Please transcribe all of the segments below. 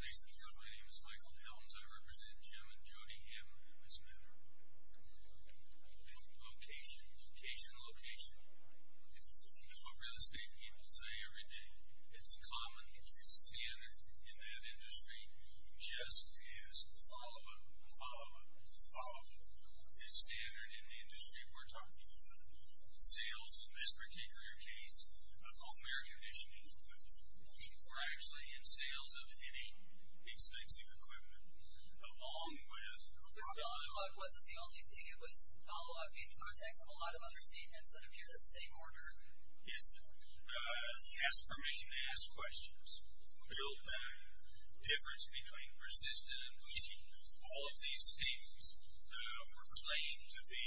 At least because my name is Michael Helms, I represent Jim and Jody Hamlin as men. Location, location, location. It's what real estate people say every day. It's common, it's standard in that industry. Just as the follow-up, the follow-up, the follow-up is standard in the industry. We're talking sales, in this particular case, home air conditioning. We're actually in sales of any expensive equipment. Along with the follow-up. The follow-up wasn't the only thing. It was follow-up in context of a lot of other statements that appeared in the same order. He has permission to ask questions. Build back. Difference between persistence. All of these statements were claimed to be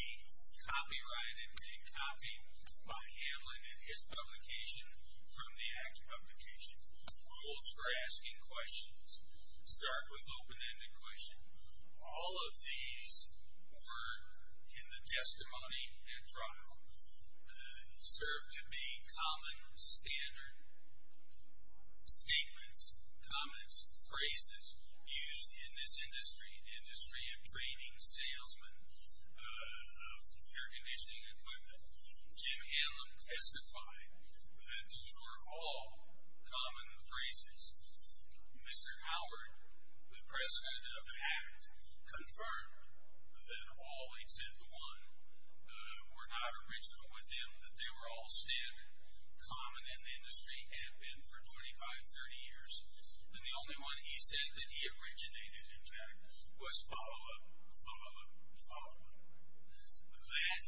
copyrighted and copied by Hamlin and his publication from the ACT publication. Rules for asking questions. Start with open-ended questions. All of these were in the testimony at trial. Served to be common, standard statements, comments, phrases used in this industry. Industry of training, salesman of air conditioning equipment. Jim Hamlin testified that these were all common phrases. Mr. Howard, the president of ACT, confirmed that all except the one were not original with him. That they were all standard, common in the industry, and have been for 25, 30 years. And the only one he said that he originated, in fact, was follow-up, follow-up, follow-up. That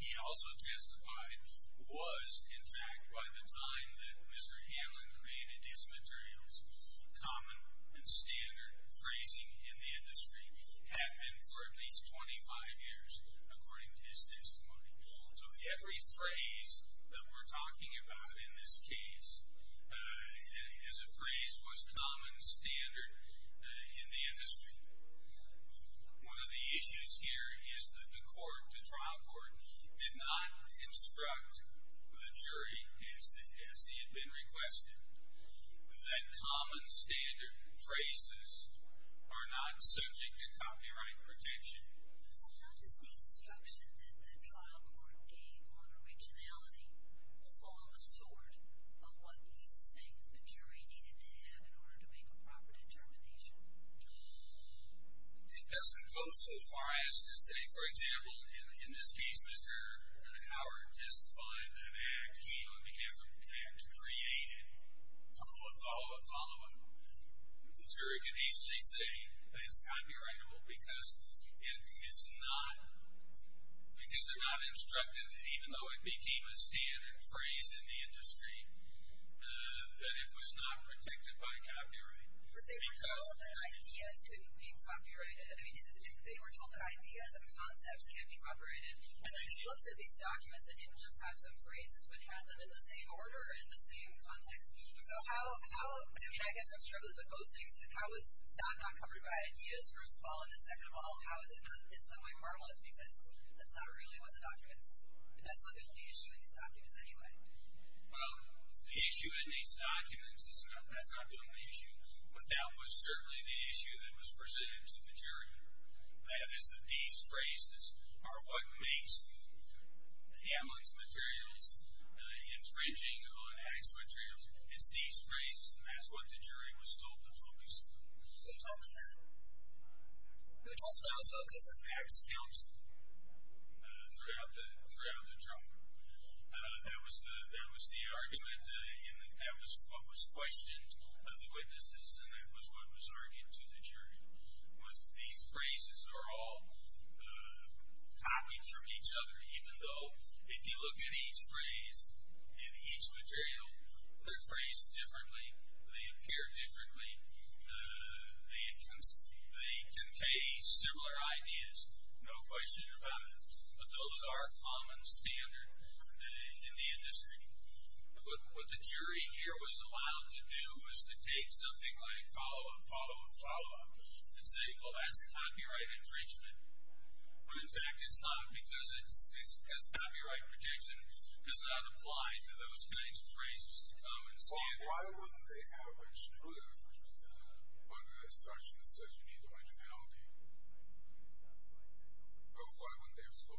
he also testified was, in fact, by the time that Mr. Hamlin created his materials, common and standard phrasing in the industry had been for at least 25 years, according to his testimony. So every phrase that we're talking about in this case is a phrase was common, standard in the industry. One of the issues here is that the court, the trial court, did not instruct the jury, as he had been requested, that common, standard phrases are not subject to copyright protection. So how does the instruction that the trial court gave on originality fall short of what you think the jury needed to have in order to make a proper determination? It doesn't go so far as to say, for example, in this case, Mr. Howard testified that ACT, he only ever had to create a follow-up, follow-up, follow-up. The jury could easily say it's copyrightable because it's not, because they're not instructed, even though it became a standard phrase in the industry, that it was not protected by copyright. But they were told that ideas could be copyrighted. I mean, they were told that ideas and concepts can't be copyrighted, and then they looked at these documents that didn't just have some phrases, but had them in the same order and the same context. So how, I mean, I guess I'm struggling, but both things, how is that not covered by ideas, first of all, and then second of all, how is it not in some way harmless, because that's not really what the documents, that's not the only issue in these documents anyway? Well, the issue in these documents, that's not the only issue, but that was certainly the issue that was presented to the jury. That is the de-phrases are what makes the analogous materials infringing on ACT's materials. It's de-phrases, and that's what the jury was told to focus on. Who told them that? Who was also told to focus on ACT's films throughout the trial? That was the argument, and that was what was questioned by the witnesses, and that was what was argued to the jury. These phrases are all copies from each other, even though if you look at each phrase and each material, they're phrased differently, they appear differently, they contain similar ideas, no question about it, but those are common standard in the industry. What the jury here was allowed to do was to take something like follow-up, follow-up, follow-up, and say, well, that's copyright infringement. But, in fact, it's not because copyright protection does not apply to those kinds of phrases, the common standard. Why wouldn't they have looked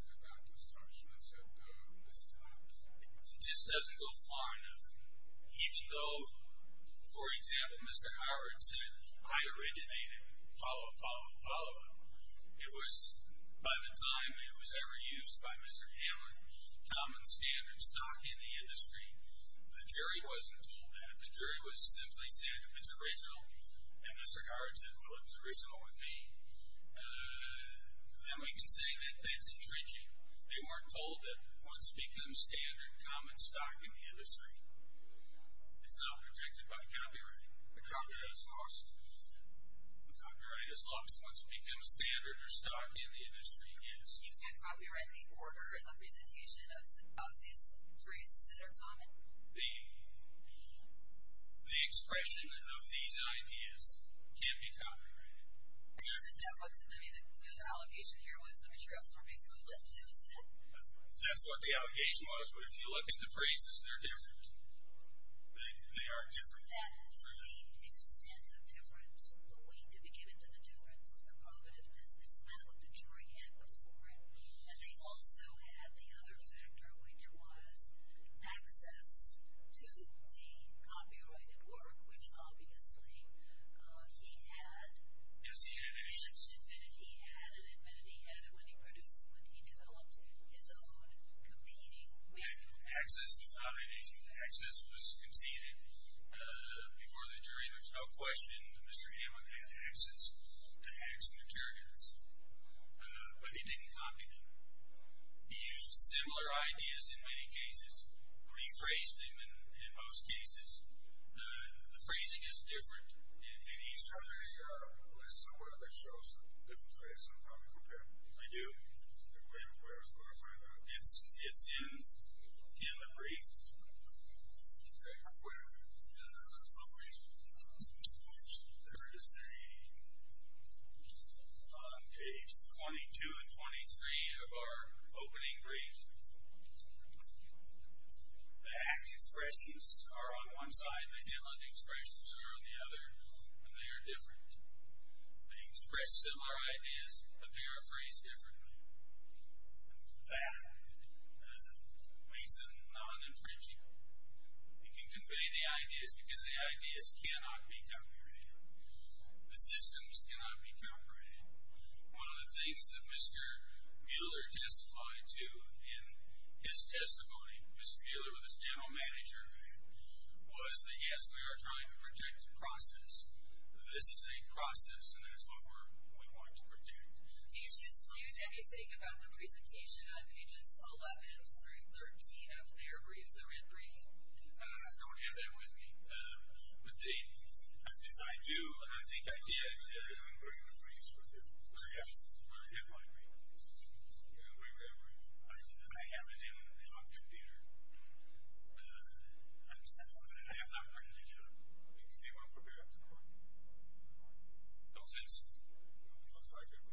at that instruction and said, this is not acceptable? It just doesn't go far enough. Even though, for example, Mr. Howard said, I originated follow-up, follow-up, follow-up, it was by the time it was ever used by Mr. Hamlin, common standard stock in the industry, the jury wasn't told that. The jury was simply said, if it's original, and Mr. Howard said, well, if it's original with me, then we can say that that's infringing. They weren't told that once it becomes standard, common stock in the industry is not protected by copyright. The copyright is lost. The copyright is lost once it becomes standard or stock in the industry is. So you can't copyright the order and the presentation of these phrases that are common? The expression of these ideas can't be copyrighted. Isn't that what the allegation here was the materials were basically listed, isn't it? That's what the allegation was. But if you look at the phrases, they're different. They are different. The extent of difference, the weight to be given to the difference, the probativeness, isn't that what the jury had before it? And they also had the other factor, which was access to the copyrighted work, which obviously he had. It was the invention. It was the invention he had, and then he had it when he produced it when he developed it, his own competing manual. Access was not an issue. Access was conceded before the jury. There's no question that Mr. Hammond had access to Hacks and Interrogants, but he didn't copy them. He used similar ideas in many cases. He phrased them in most cases. The phrasing is different in each country. There's somewhere that shows a different phrasing. Let me look at it. I do. Wait a minute. It's in the brief. There is a page 22 and 23 of our opening brief. The hacked expressions are on one side. The inland expressions are on the other, and they are different. They express similar ideas, but they are phrased differently. That makes it non-infringing. It can convey the ideas because the ideas cannot be calculated. The systems cannot be calculated. One of the things that Mr. Mueller testified to in his testimony, Mr. Mueller was his general manager, was that, yes, we are trying to project a process. This is a process, and it's what we're going to project. Did you disclose anything about the presentation on pages 11 through 13 of their brief, their in-brief? I don't have that with me. I do. I think I did. It's in the brief. Where is it? It's in my brief. Where is it? I have it in my computer. I have not printed it out. It came off of there. No sense. It looks like it.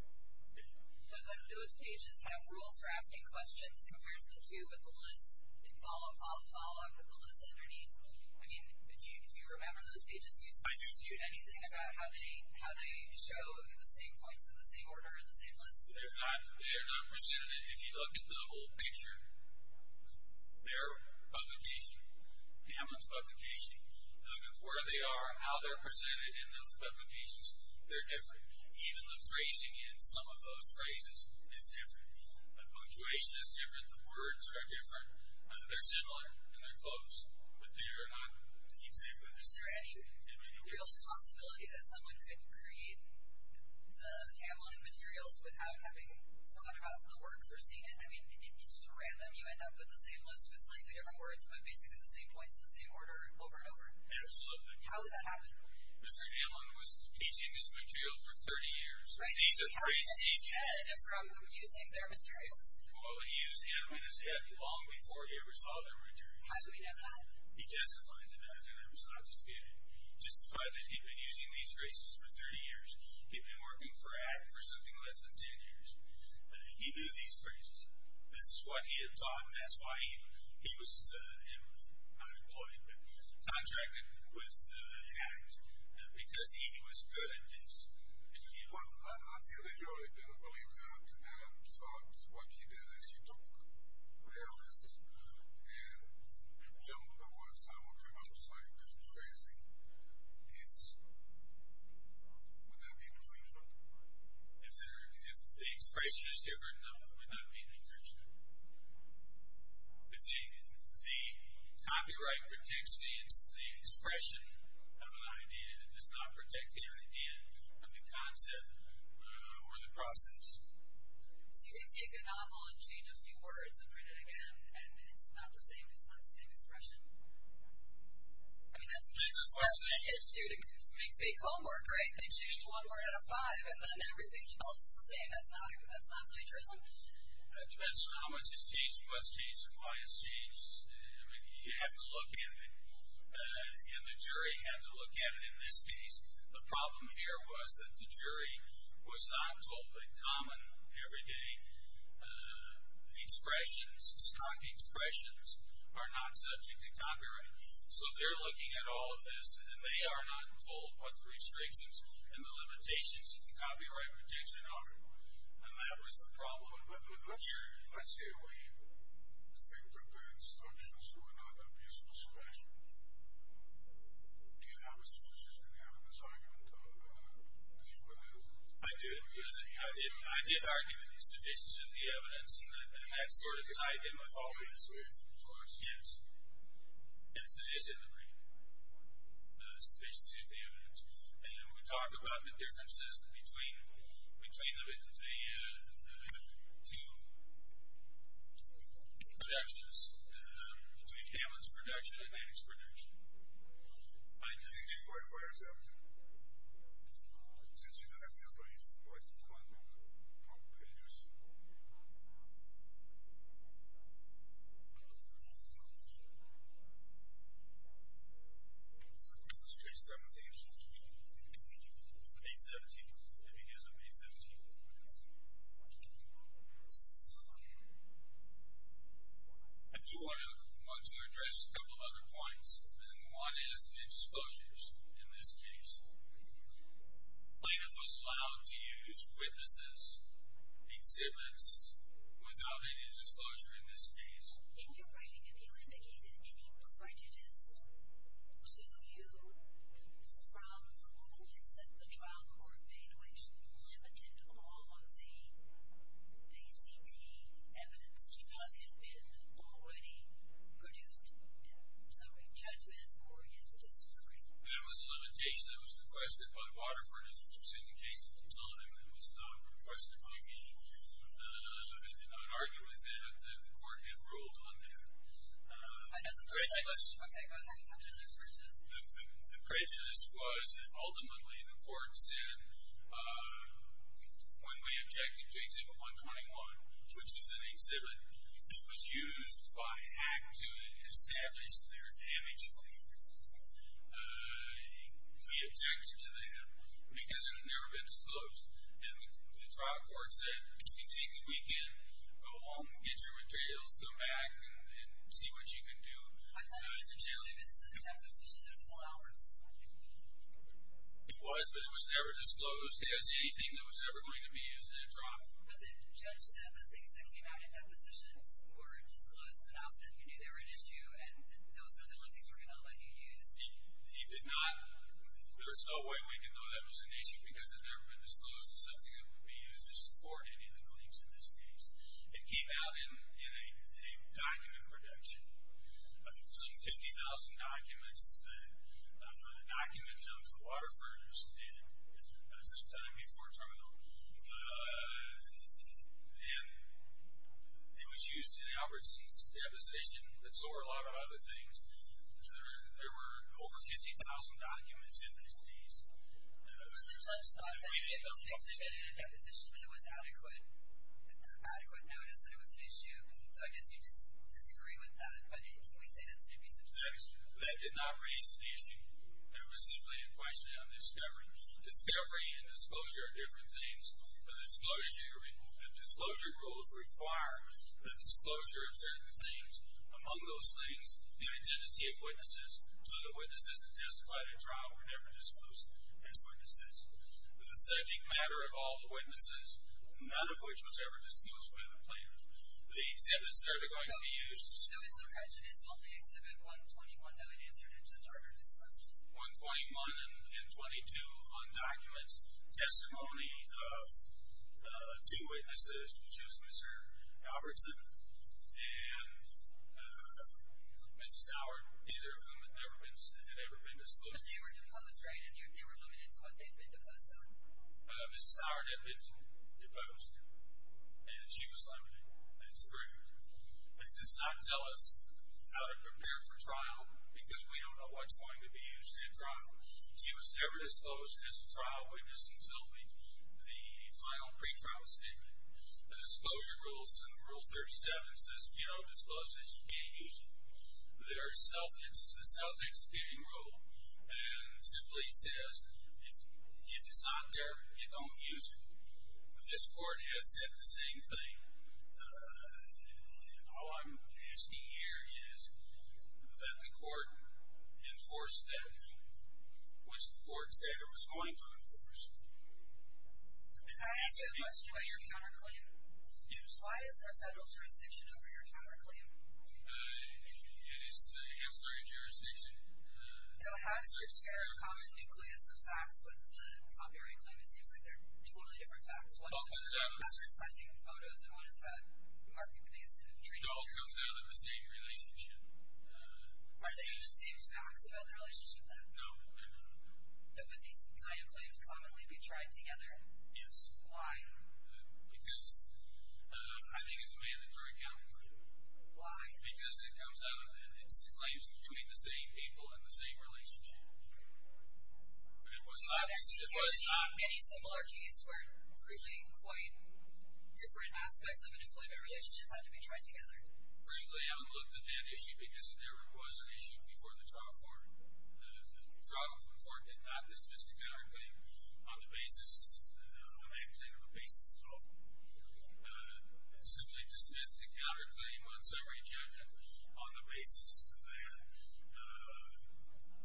Those pages have rules for asking questions. It compares the two with the list and follow, follow, follow with the list underneath. I mean, do you remember those pages? I do. Do you dispute anything about how they show the same points in the same order in the same list? They are not presented. If you look at the whole picture, their publication, Hamlin's publication, look at where they are, how they're presented in those publications. They're different. Even the phrasing in some of those phrases is different. The punctuation is different. The words are different. They're similar, and they're close. But they are not exactly the same. Is there any real possibility that someone could create the Hamlin materials without having thought about the works or seen it? I mean, it's just random. You end up with the same list with slightly different words, but basically the same points in the same order over and over. Absolutely. How would that happen? Mr. Hamlin was teaching this material for 30 years. Right. And how did he get it from using their materials? Well, he used Hamlin as if long before he ever saw them returned. How do we know that? He testified to that, and that was not just good. He testified that he'd been using these phrases for 30 years. He'd been working for ACC for something less than 10 years. He knew these phrases. This is what he had taught, and that's why he was employed, contracted with ACT, because he was good at this. Well, I see that you really don't believe that. I thought what he did is he took the errors and jumped the words out of a commercial site, which is crazy. He's… Would that be unusual? The expression is different. No, it would not be unusual. The copyright protects the expression of an idea that does not protect the idea of the concept or the process. So you can take a novel and change a few words and print it again, and it's not the same expression. I mean, that's a huge question. It makes big homework, right? They change one word out of five, and then everything else is the same. That's not plagiarism? It depends on how much it's changed, what's changed, and why it's changed. I mean, you have to look at it, and the jury had to look at it in this case. The problem here was that the jury was not totally common every day. Expressions, stock expressions, are not subject to copyright. So they're looking at all of this, and they are not involved with the restrictions and the limitations that the copyright protects in order. And that was the problem. But let's say we think that the instructions were not a peaceful expression. Do you have a sufficient evidence argument to prove that? I do. I did argue with the sufficiency of the evidence, because I did my followings with the source. Yes, it is in the brief, the sufficiency of the evidence. And we talked about the differences between the two productions, between Kamen's production and Mannick's production. I did argue with that. Since you don't have your brief, why is it not on the pages? I do want to address a couple of other points, and one is the disclosures in this case. Plaintiff was allowed to use witnesses, exhibits without any disclosure in this case. In your writing, if you indicated any prejudice to you from the points that the trial court made, which limited all of the ACT evidence because it had been already produced in summary judgment for his discovery. There was a limitation that was requested by Waterford, which was in the case of Tutankhamen. It was not requested by me. I did not argue with that. The court had ruled on that. I have a prejudice. Okay, go ahead. What was your prejudice? The prejudice was that ultimately the court said, when we objected to Exhibit 121, which was an exhibit, that it was used by ACT to establish their damage claim. We objected to that because it had never been disclosed, and the trial court said, if you take a weekend, go home, get your materials, go back and see what you can do. I thought it was the deposition of flowers. It was, but it was never disclosed as anything that was ever going to be used in a trial. But the judge said that things that came out in depositions were disclosed, and often you knew they were an issue, and those are the only things we're going to allow you to use. He did not. There is no way we can know that was an issue because it had never been disclosed as something that would be used to support any of the claims in this case. It came out in a document production, some 50,000 documents. The document comes from Waterford, sometime before terminal. And it was used in Albertson's deposition. It's over a lot of other things. There were over 50,000 documents in these days. But there's no such thing as an exhibit in a deposition that was adequate notice that it was an issue. So I guess you disagree with that, but can we say that's an abuse of power? That did not raise the issue. It was simply a question of discovery. Discovery and disclosure are different things. The disclosure rules require the disclosure of certain things. Among those things, the identity of witnesses, so the witnesses that testified at trial were never disclosed as witnesses. The subject matter of all the witnesses, none of which was ever disclosed by the plaintiffs, the exhibits that are going to be used. So is the prejudice on the exhibit 121 that we answered in the charter discussion? 121 and 22 undocuments testimony of two witnesses, which was Mr. Albertson and Mrs. Howard, either of whom had never been disclosed. But they were deposed, right? And they were limited to what they'd been deposed on? Mrs. Howard had been deposed, and she was limited. That's rude. It does not tell us how to prepare for trial because we don't know what's going to be used at trial. She was never disclosed as a trial witness until the final pretrial statement. The disclosure rules, in Rule 37, says, if you don't disclose it, you can't use it. There is a self-executing rule, and simply says if it's not there, you don't use it. This court has said the same thing. All I'm asking here is that the court enforce that, which the court said it was going to enforce. Can I ask you a question about your counterclaim? Yes. Why is there federal jurisdiction over your counterclaim? It is the Hemsley jurisdiction. So how does it share a common nucleus of facts with the copyright claim? It all comes out in the same relationship. Are they the same facts about the relationship then? No, they're not. Would these kind of claims commonly be tried together? Yes. Why? Because I think it's mandatory counterclaim. Why? Because it comes out as a claim between the same people in the same relationship. It was not. Any similar case where really quite different aspects of an employment relationship had to be tried together? Frankly, I would look at that issue because there was an issue before the trial court. The trial court did not dismiss the counterclaim on the basis, I can't think of a basis at all, simply dismissed the counterclaim on summary judgment on the basis of that.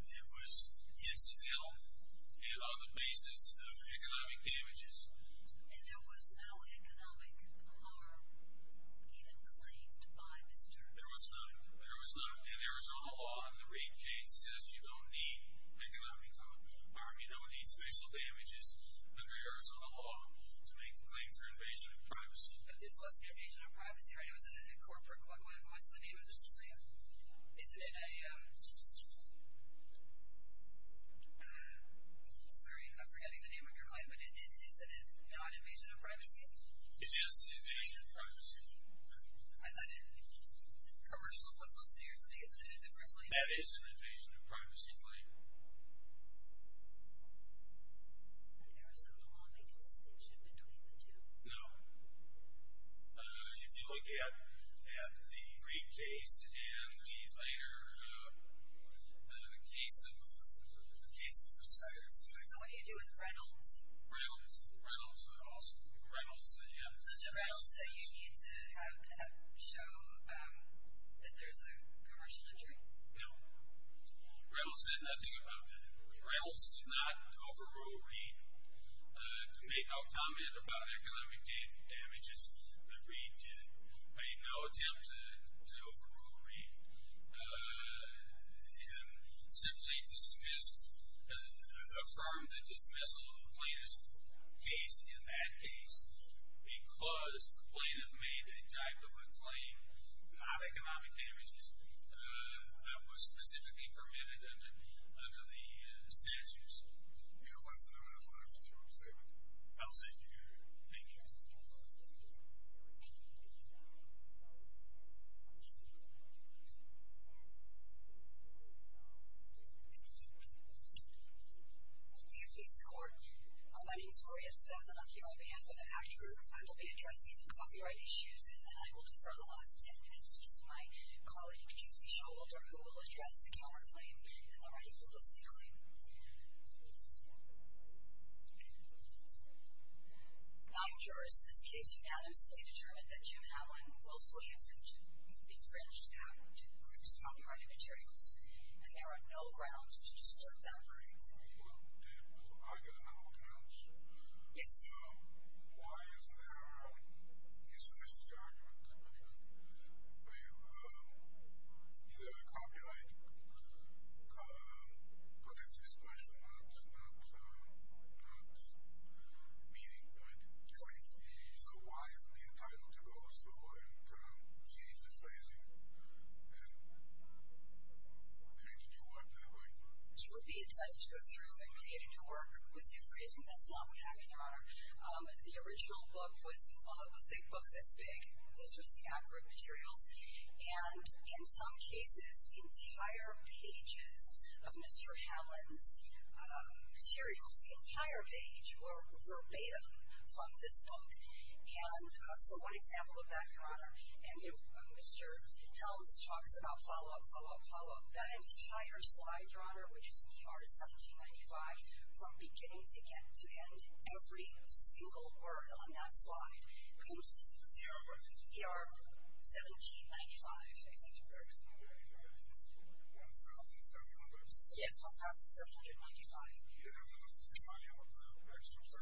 It was instilled on the basis of economic damages. And there was no economic harm even claimed by Mr. There was none. There was none. And Arizona law in the rate case says you don't need economic harm, you don't need special damages under Arizona law to make a claim for invasion of privacy. But this wasn't invasion of privacy, right? It was a corporate one. What's the name of this claim? Is it a... Sorry, I'm forgetting the name of your claim, but is it a non-invasion of privacy? It is an invasion of privacy. I thought it was a commercial publicity or something, isn't it a different claim? That is an invasion of privacy claim. Did Arizona law make a distinction between the two? No. If you look at the rate case and the later case, there's a case that was cited. So what do you do with rentals? Rentals, rentals, also rentals, yeah. Such rentals that you need to have show that there's a commercial injury? No. Rentals said nothing about that. Rentals did not overrule rate to make no comment about economic damages. The rate did make no attempt to overrule rate. And simply dismissed, affirmed the dismissal of the plaintiff's case in that case because the plaintiff made a type of a claim about economic damages that was specifically permitted under the statutes. You have less than a minute left, James David. I'll see you here. Thank you. Do you have a case in court? My name is Maria Speth, and I'm here on behalf of the Act Group. I will be addressing the copyright issues, and then I will defer the last ten minutes to my colleague, Jusie Showalter, who will address the Calmer claim and the rightful dismantling. Nine jurors in this case unanimously determined that Jim Atlin will fully infringe the Act Group's copyright materials, and there are no grounds to disturb that verdict. Well, do I get a number of counts? Yes, you do. Why isn't there a insufficiency argument? We have either a copyright protective suppression or not meeting, right? Correct. So why isn't the entitlement to go through and change the phrasing and create a new work that way? You would be entitled to go through and create a new work with new phrasing. That's not what we have here, Your Honor. The original book was a thick book this big. This was the Act Group materials, and in some cases, the entire pages of Mr. Helms' materials, the entire page were verbatim from this book. And so one example of that, Your Honor, and Mr. Helms talks about follow-up, follow-up, follow-up. That entire slide, Your Honor, which is PR 1795, from beginning to end, every single word on that slide includes... PR what is it? PR 0G95. I think it works. PR 1795? Yes, PR 1795. Yeah, there was a lot of money on that. I just don't trust this. Okay, let me tell you. Read it. Okay, 1795? Yes. Okay. Yeah. First thing, Your Honor,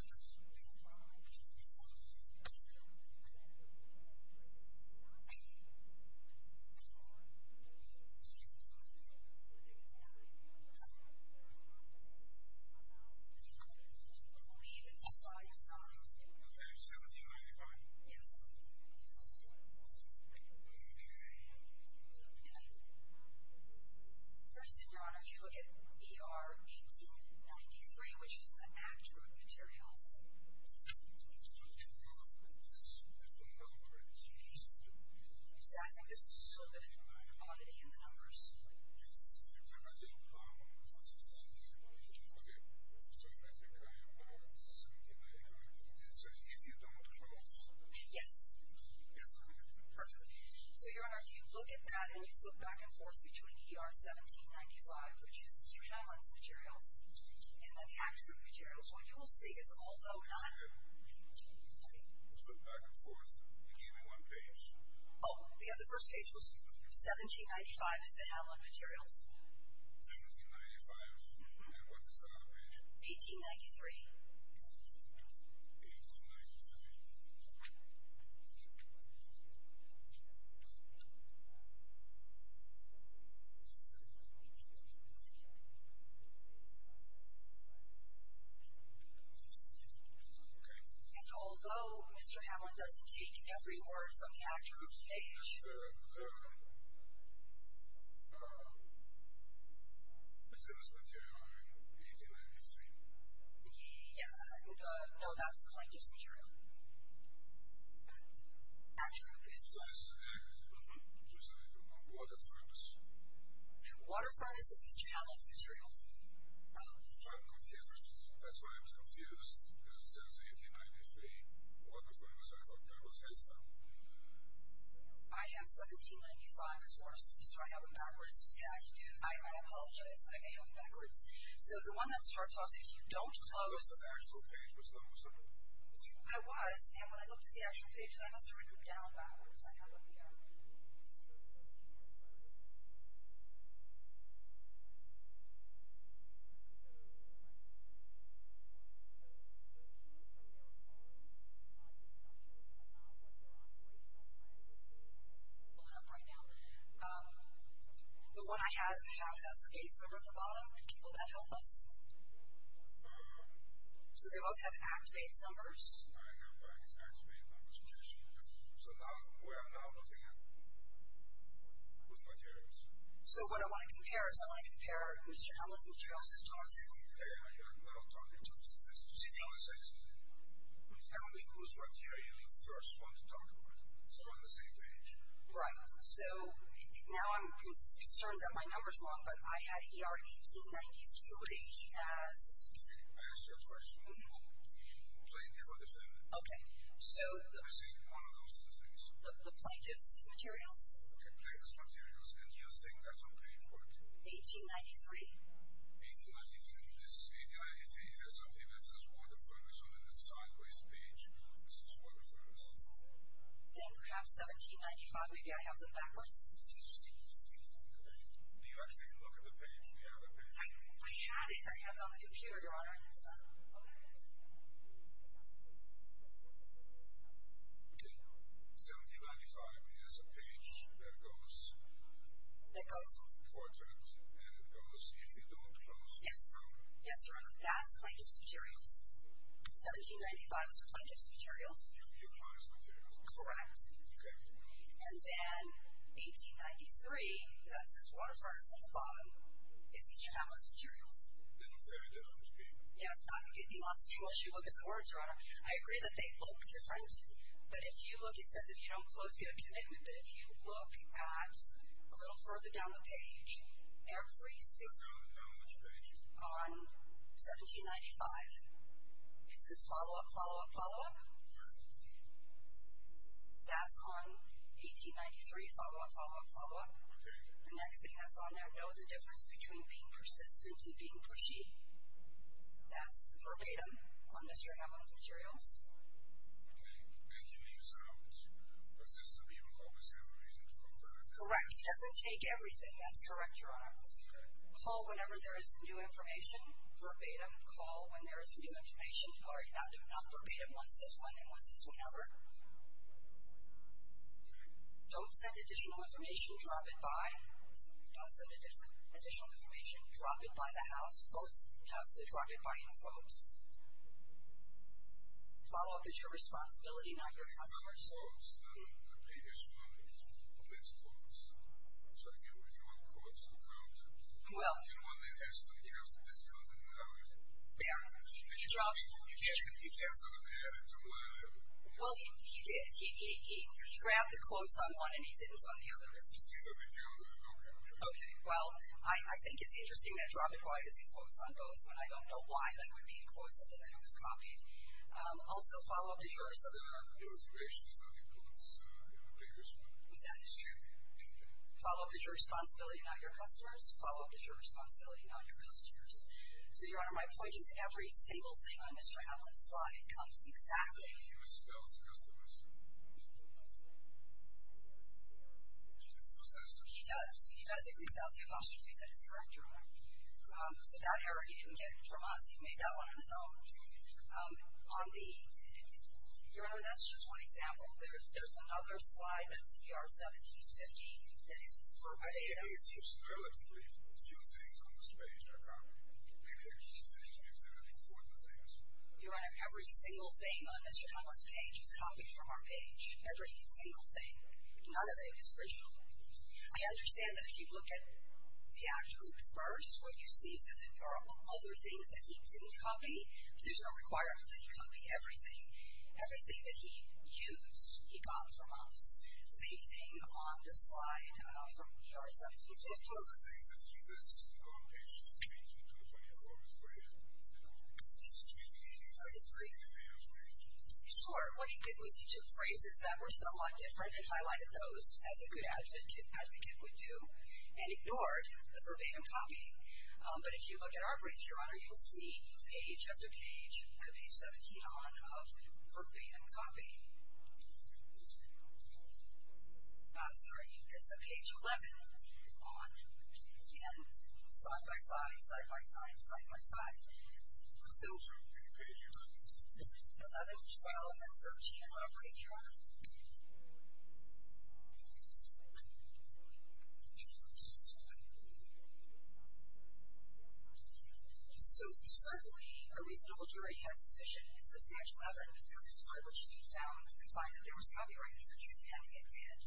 if you look at PR 1893, which is the Act Group materials... Your Honor, I didn't follow. Okay. Yes. Perfect. So, Your Honor, if you look at that and you flip back and forth between PR 1795, which is Mr. Helms' materials, and then the Act Group materials, what you will see is although not... Okay. Flip back and forth. Give me one page. Oh, yeah, the first page was 1795. 1795 is the Hamlin materials. 1795. And what's the second page? 1893. 1893. Okay. And although Mr. Hamlin doesn't take every word from the Act Group's page... Is there... Is there Mr. Hamlin's material in 1893? Yeah. No, that's Mr. Hamlin's material. Act Group is... This is the Act Group. So it's like water furnace. Water furnace is Mr. Hamlin's material. So I'm confused. That's why I was confused. Because it says 1893, water furnace. I thought that was his stuff. I have 1795 as well. So I have it backwards. I apologize. I may have it backwards. So the one that starts off as you don't close... I was, and when I looked at the actual pages, I must have written it down backwards. I have it down backwards. I'm pulling it up right now. The one I have has the Gates number at the bottom. Can you pull that up for us? So they both have Act Gates numbers. Act Gates numbers. So now we are now looking at... whose material is it? So what I want to compare is I want to compare Mr. Hamlin's materials to ours. Yeah, yeah, yeah. I'll talk in two sentences. Tell me whose material you first want to talk about. So we're on the same page. Right. So now I'm concerned that my number's wrong, but I had ER 1893 as... I asked you a question. Plaintiff or defendant? Okay, so... Let me see. One of those two things. The plaintiff's materials. Okay, the plaintiff's materials. And you think that's okay for it? 1893. 1893. 1893 is something that says water furnace on a sideways page. This is water furnace. Then perhaps 1795. Maybe I have them backwards. Do you actually look at the page? Do you have the page? I have it. I have it on the computer, Your Honor. Okay. 1795 is a page that goes... That goes. Four turns. And it goes, if you don't trust... Yes, Your Honor, that's plaintiff's materials. 1795 is the plaintiff's materials. Your Honor's materials. Correct. Correct, Your Honor. And then 1893, that says water furnace at the bottom, is each of the defendant's materials. They look very different, Your Honor. Yes, Your Honor, unless you look at the order, Your Honor. I agree that they look different, but if you look, it says if you don't close, you have a commitment, but if you look at a little further down the page, every single... Further down the page. On 1795, it says follow-up, follow-up, follow-up. That's on 1893, follow-up, follow-up, follow-up. Okay. The next thing that's on there, know the difference between being persistent and being pushy. That's verbatim on Mr. Hamlin's materials. Okay. And he leaves it out. Persistently, you will always have a reason to confer. Correct. He doesn't take everything. That's correct, Your Honor. Call whenever there is new information, verbatim. Call when there is new information. Not verbatim. One says when and one says whenever. Okay. Don't send additional information. Drop it by. Don't send additional information. Drop it by the house. Both have the drop it by in quotes. Follow-up is your responsibility, not your customer's. No, it's not. The previous one is the best one. So, again, we're doing quotes in quotes. Well. And one that has to have the discounted number. Yeah. Can you drop it by? You can't send an added to one added. Well, he did. He grabbed the quotes on one and he didn't on the other. Okay. Okay. Well, I think it's interesting that drop it by is in quotes on both, but I don't know why that would be in quotes if the letter was copied. Also, follow-up is your responsibility. The information is not in quotes. It appears to be. That is true. Follow-up is your responsibility, not your customer's. Follow-up is your responsibility, not your customer's. So, Your Honor, my point is, every single thing on Mr. Hamlet's slide comes exactly. He was spelled as customer's. I suppose that is true. He does. He does. It leaves out the apostrophe. That is correct, Your Honor. So, that error he didn't get from us, he made that one on his own. On the, Your Honor, that's just one example. There's another slide, that's ER 1715, that is perfect. Your Honor, every single thing on Mr. Hamlet's page is copied from our page. Every single thing. None of it is original. I understand that if you look at the act group first, what you see is that there are other things that he didn't copy. There's no requirement that he copy everything. Everything that he used, he got from us. Same thing on this slide from ER 1715. Sure. What he did was he took phrases that were somewhat different and highlighted those as a good advocate would do and ignored the verbatim copy. But if you look at our brief, Your Honor, you'll see page after page after page 17 on verbatim copy. I'm sorry, it's page 11 on slide by slide, slide by slide, slide by slide. So, from page 11, 12, and 13 of our brief, Your Honor, so, certainly, a reasonable jury had sufficient and substantial evidence to prove that this was a privilege to be found and find that there was copyright infringement, and it did.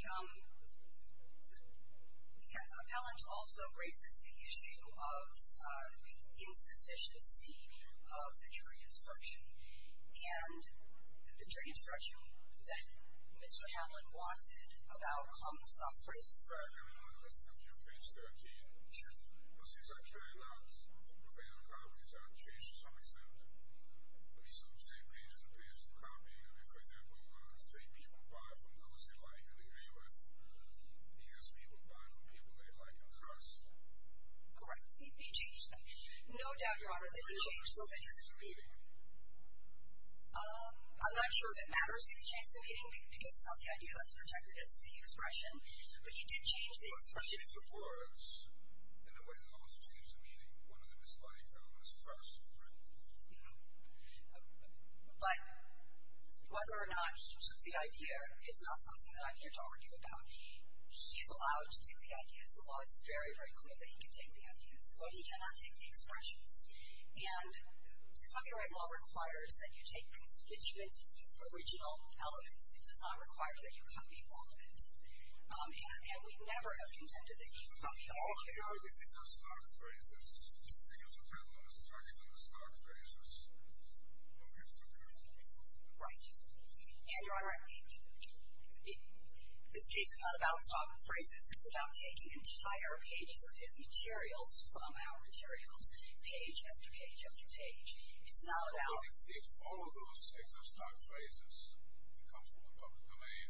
Your Honor, the appellant also raises the issue of the insufficiency of the jury instruction, and the jury instruction that Mr. Hamlet wanted about Hamlet's soft phrases. Correct. He changed them. No doubt, Your Honor, that he changed those entries. I'm not sure if it matters if he changed the meaning because it's not the idea that's projected, it's the expression, but he did change the expression. But whether or not he took the idea is not something that I'm here to argue about. He is allowed to take the ideas. The law is very, very clear that he can take the ideas, but he cannot take the expressions. And copyright law requires that you take your constituent original elements. It does not require that you copy all of it. And we never have contended that he copied all of it. Right. And, Your Honor, this case is not about soft phrases. It's about taking entire pages of his materials from our materials, page after page after page. It's not about... But if all of those exist as soft phrases, if it comes from the public domain,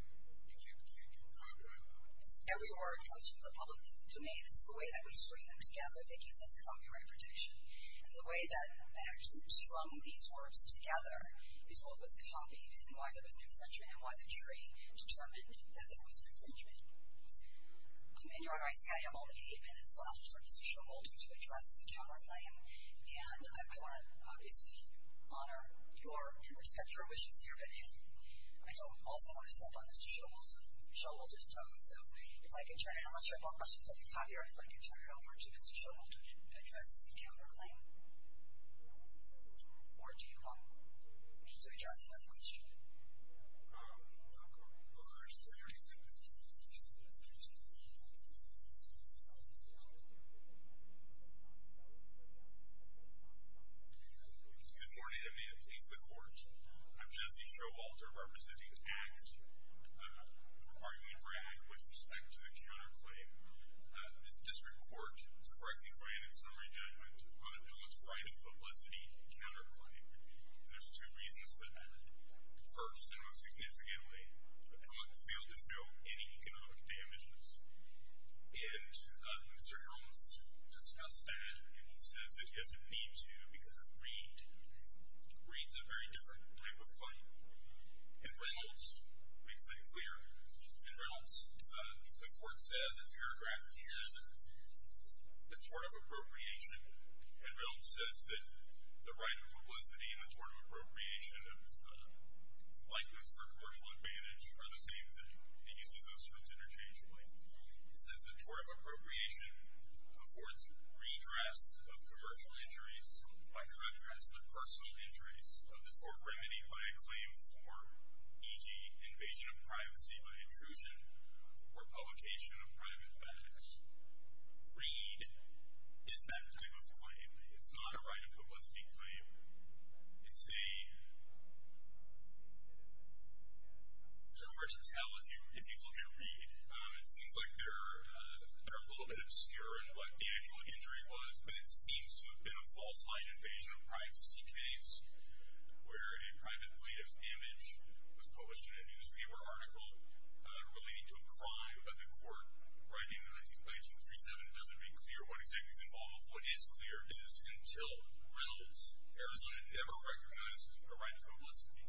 you can't do copyright law. Every word comes from the public domain. It's the way that we string them together that gives us copyright protection. And the way that I actually strung these words together is what was copied and why there was an infringement and why the jury determined that there was an infringement. And, Your Honor, I see I have only eight minutes left for Mr. Schumel to address the camera claim. And I want to obviously honor your and respect your wishes here, but I also want to step on Mr. Schumel's toe. So if I can turn it over to Mr. Schumel to address the camera claim. Or do you want me to address another question? Good morning. I'm here to please the court. I'm Jesse Showalter, representing ACT. I'm arguing for ACT with respect to the counterclaim. The district court correctly claimed in summary judgment that the public's right of publicity counterclaim. And there's two reasons for that. First, and most significantly, the public failed to show any economic damages. And Mr. Helms discussed that, and he says that he hasn't paid to because of greed. Greed's a very different type of claim. And Reynolds makes that clear. And Reynolds, the court says in paragraph 10, the tort of appropriation. And Reynolds says that the right of publicity and the tort of appropriation of likeness for commercial advantage are the same thing. He uses those terms interchangeably. He says the tort of appropriation affords redress of commercial injuries by contrast to personal injuries of disorder remedied by a claim for, e.g., invasion of privacy by intrusion or publication of private facts. Greed is that type of claim. It's not a right of publicity claim. It's a... It seems like they're a little bit obscure in what the actual injury was, but it seems to have been a false line invasion of privacy case where a private plaintiff's image was published in a newspaper article relating to a crime. But the court, writing in, I think, 1937, doesn't make clear what exactly is involved. What is clear is until Reynolds, Arizona never recognizes a right to publicity,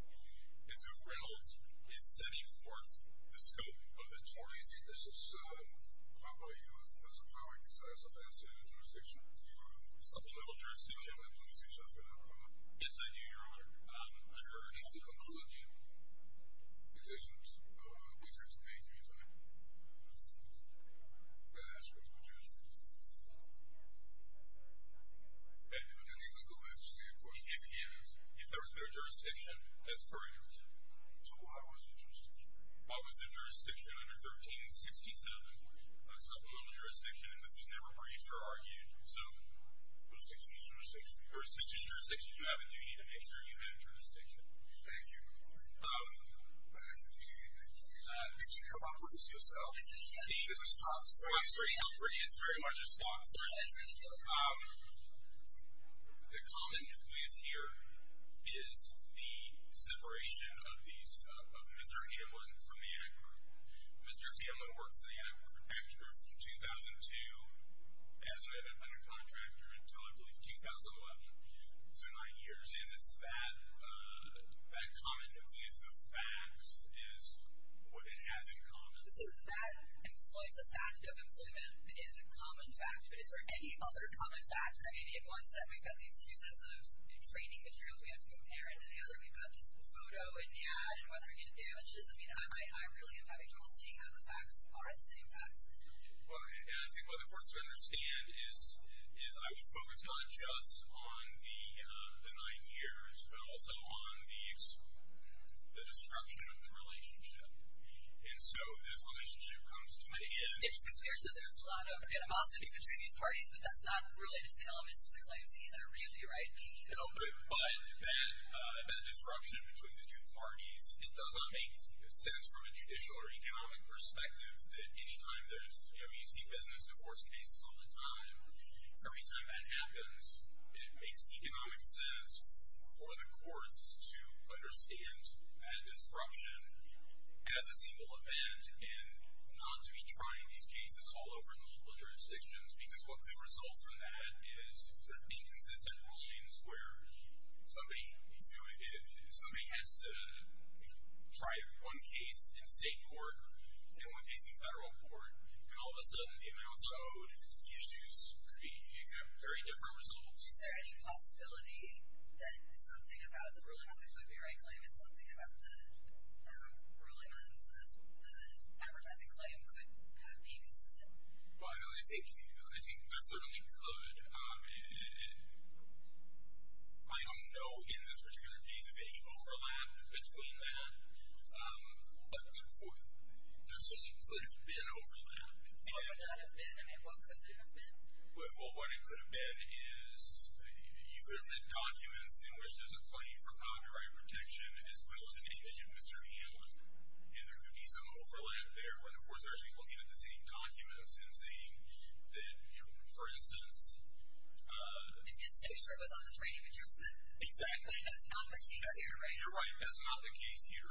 is when Reynolds is setting forth the scope of the tort. This is... I'm talking about you as a lawyer. You said something I said in the jurisdiction. It's a political jurisdiction. I'm going to say something I said in the court. Yes, I do, Your Honor. I heard it. It's a concluding... It's a concluding judgment. I'm going to ask you a question. Yes, because there's nothing in the record... And the conclusion, I understand, of course, is if there has been a jurisdiction as per your judgment, so why was there a jurisdiction? Why was there a jurisdiction under 1367? It's a political jurisdiction, and this was never briefed or argued. So... It's a judicial jurisdiction. It's a judicial jurisdiction. You have a duty to make sure you have a jurisdiction. Thank you. Um... Did you come up with this yourself? The issue is a spot for it. It's very much a spot for it. Um... The comment that we hear is the separation of these... of Mr. Hamlin from the anti-corruption group. Mr. Hamlin worked for the anti-corruption group from 2002, as an independent contractor, until, I believe, 2011. So nine years in, it's that... that common nucleus of facts is what it has in common. So that employment statute of employment is a common fact, but is there any other common facts, any of ones that we've got these two sets of training materials we have to compare? And then the other, we've got this photo and ad and whether it damages. I mean, I really am having trouble seeing how the facts are the same facts. Well, and I think what the courts should understand is... is I would focus not just on the... the nine years, but also on the... the destruction of the relationship. And so this relationship comes to... It's clear that there's a lot of animosity between these parties, but that's not related to the elements of the claims either, really, right? No, but... but that... that disruption between the two parties, it does not make sense from a judicial or economic perspective that any time there's... I mean, you see business divorce cases all the time. Every time that happens, it makes economic sense for the courts to understand that disruption as a single event and not to be trying these cases all over multiple jurisdictions because what could result from that is sort of inconsistent rulings where somebody... somebody has to... try one case in state court and one case in federal court, and all of a sudden, the amounts owed, the issues could be... could have very different results. Is there any possibility that something about the ruling on the Philippi Wright claim and something about the... ruling on the... the advertising claim could be consistent? Well, I think... I think there certainly could, and... I don't know, in this particular case, if there's any overlap between that, but there certainly could be an overlap. What would that have been? I mean, what could that have been? Well, what it could have been is you could have read documents in which there's a claim for copyright protection as well as an image of Mr. Hamlin, and there could be some overlap there where the courts are actually looking at the same documents and saying that, you know, for instance... If you're so sure it was on the train of adjustment. Exactly. That's not the case here, right? You're right. That's not the case here.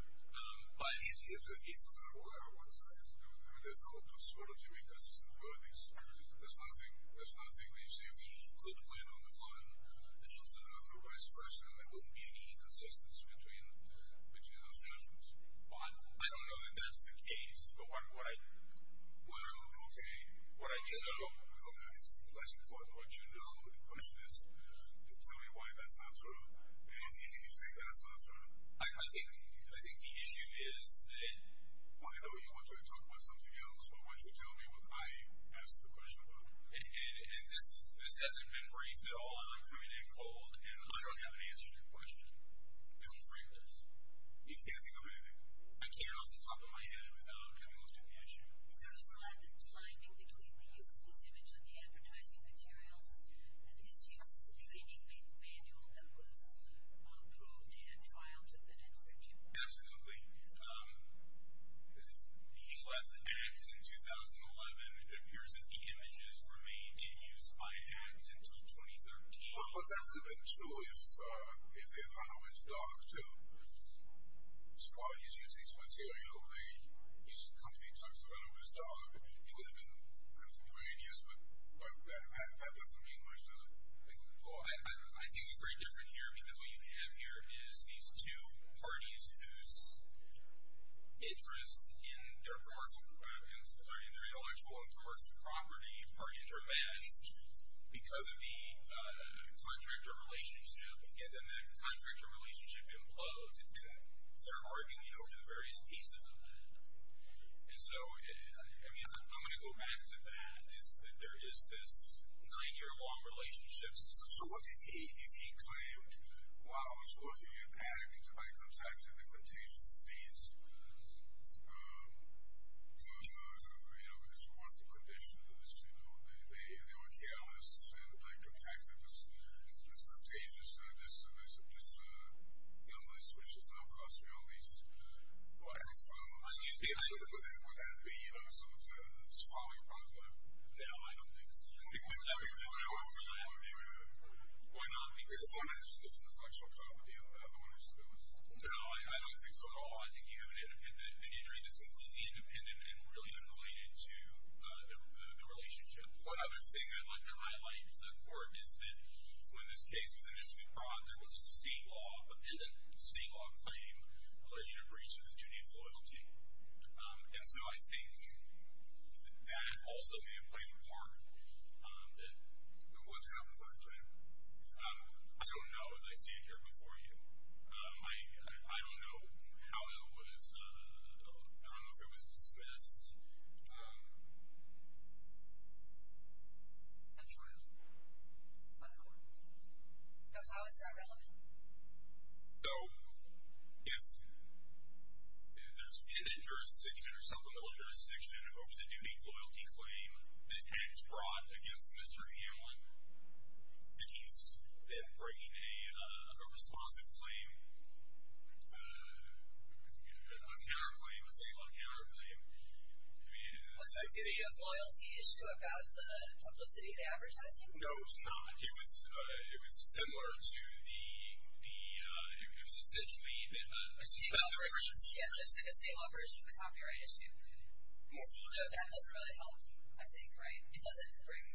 But if... if there were one side, there's no... there's no possibility because there's no evidence. There's nothing... there's nothing that you see. I mean, you could win on the one and lose on the other. But as a person, there wouldn't be any inconsistency between... between those judgments. Well, I don't know that that's the case, but what I... Well, okay. What I do know... Well, that's important. What you know. The question is, tell me why that's not true. And you think that's not true? I think... I think the issue is that... Well, you know, you want to talk about something else, but why don't you tell me what I asked the question about? And this... this hasn't been briefed at all. I'm like coming in cold and I don't have an answer to your question. Don't frame this. You can't think of anything? I can't, off the top of my head, without having looked at the issue. Is there an overlap and aligning between the use of this image on the advertising materials and his use of the training manual that was approved at a trial to Ben and Virginia? Absolutely. Um... He left ACT in 2011. It appears that the images remained in use by ACT until 2013. Well, I thought that would have been true if, uh, if they had hung on his dog, too. So while he's using this material, he used to come to me and talk about it with his dog. It would have been kind of pretty obvious, but that... that doesn't mean much, does it? Well, I... I think it's very different here because what you have here is these two parties whose interests in their commercial... in their intellectual and commercial property parties are vast because of the, uh, contractor relationship. And then that contractor relationship implodes and they're arguing over various pieces of that. And so it... I mean, I'm gonna go back to that. It's that there is this nine-year-long relationship. So what did he... if he claimed while he was working at ACT that somebody contacted the contagious disease, uh, uh, uh, you know, his work conditions, you know, if they were careless and, like, contacted this... this contagious, uh, this, uh, this, uh, illness, which is now causing all these, uh, all these problems. Did you see anything with that? Would that be, you know, someone's, uh, is following up on that? No, I don't think so. I think... I think there's no... I don't think... Why not? Because... There's one that's... there's an intellectual property of the one who's... No, I don't think so at all. I think you have an independent... an interest that's completely independent and really unrelated to, uh, the relationship. One other thing I'd like to highlight for it is that when this case was initially brought, there was a state law but didn't... state law claim that you had breached the duty of loyalty. Um, and so I think that it also may have played a part, um, that it would have but, um, um, I don't know as I stand here before you. Um, I... how it was, uh, I don't know if it was dismissed, um... A trial? A court trial? Yes. How is that related to the case? Um, is that relevant? No. If... if there's in a jurisdiction or something in a jurisdiction over the duty of loyalty claim and it's brought against Mr. Hamlin and he's, uh, breaking a, uh, a responsive claim, uh, a counterclaim, a state law counterclaim, I mean... Was that duty of loyalty issue about the publicity of the advertising? No, it was not. It was, uh, it was similar to the, the, uh, it was essentially that, uh... A state law version? Yes, essentially the state law version of the copyright issue. Yes. So that doesn't really help, I think, right? It doesn't bring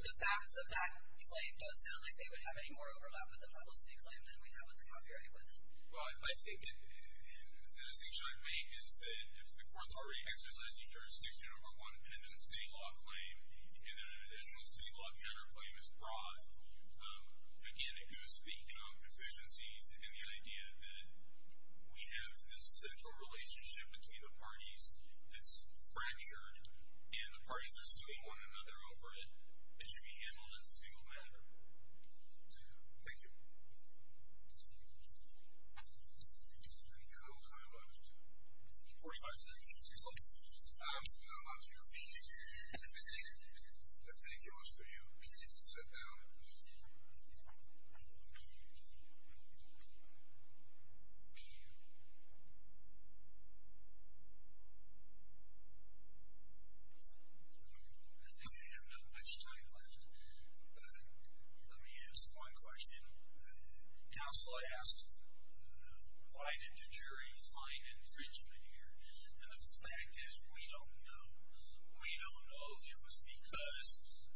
the facts of that claim, but it sounds like they would have any more overlap with the publicity claim than we have with the copyright one. Well, I think the distinction I've made is that if the court's already exercised a jurisdiction over one independent state law claim and then an additional state law counterclaim is brought, um, again, if it was speaking on proficiencies and the idea that we have this central relationship between the parties that's fractured and the parties over it, it should be handled as a single matter. Thank you. Thank you. Thank you. Thank you. Thank you. Thank you. Thank you. Thank you. That was a very concerning infringement here, and the fact is we don't know. We don't know if it was because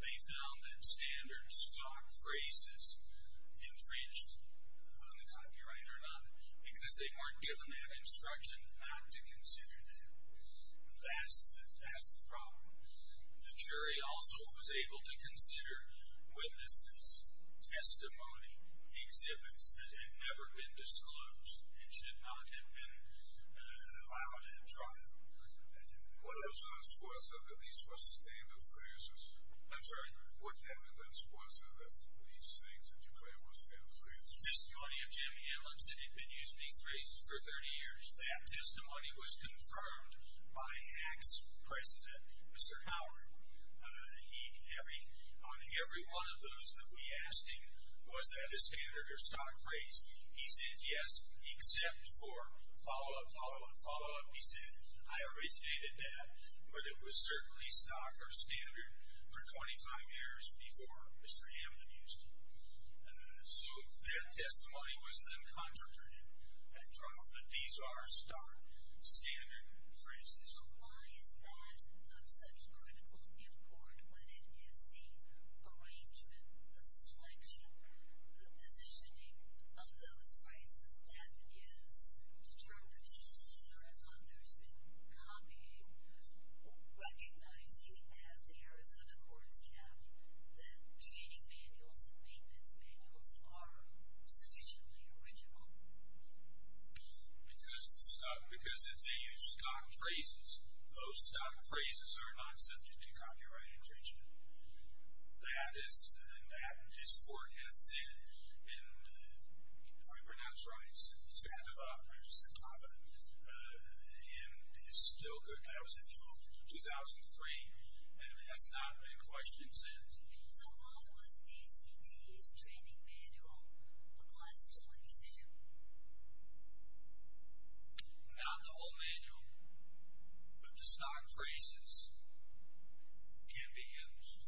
they found that standard stock phrases infringed under copyright or not because they weren't given that instruction not to consider that. That's the problem. The jury also was able to consider witnesses, testimony, exhibits that had never been disclosed and should not have been allowed and tried. What evidence was there that these were standard phrases? I'm sorry? What evidence was there that these things that you claim were standard phrases? The testimony of Jim Hamlin said he had been using these phrases for 30 years. That testimony was confirmed by HAC's president, Mr. Howard. He, on every one of those that we asked him, was that a standard or stock phrase? He said, yes, except for follow-up, follow-up, follow-up. He said, I already stated that, but it was certainly stock or standard for 25 years before Mr. Hamlin. That testimony was then contradicted. But these are stock standard phrases. Why is that of such critical importance when it is the arrangement, the selection, the positioning of those phrases that he has determined that he and others have been copying, recognizing as the Arizona courts have, that training manuals and maintenance manuals are sufficiently original? Because if they use stock phrases, those stock phrases are not subject to copyright infringement. That is, and that this court has said in, if I pronounce right, Santa Barbara, Santa Barbara, Barbara. in 2003. I was in 2003, and it has not been questioned since. So why was ACT's training manual a constitutional institution? Not the whole manual, but the stock phrases can be changed by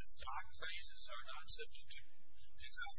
the training manual. It is not I think that was the key point. I don't think it was a constitutional institution. I think we are trying to this institution a better institution. Thank you.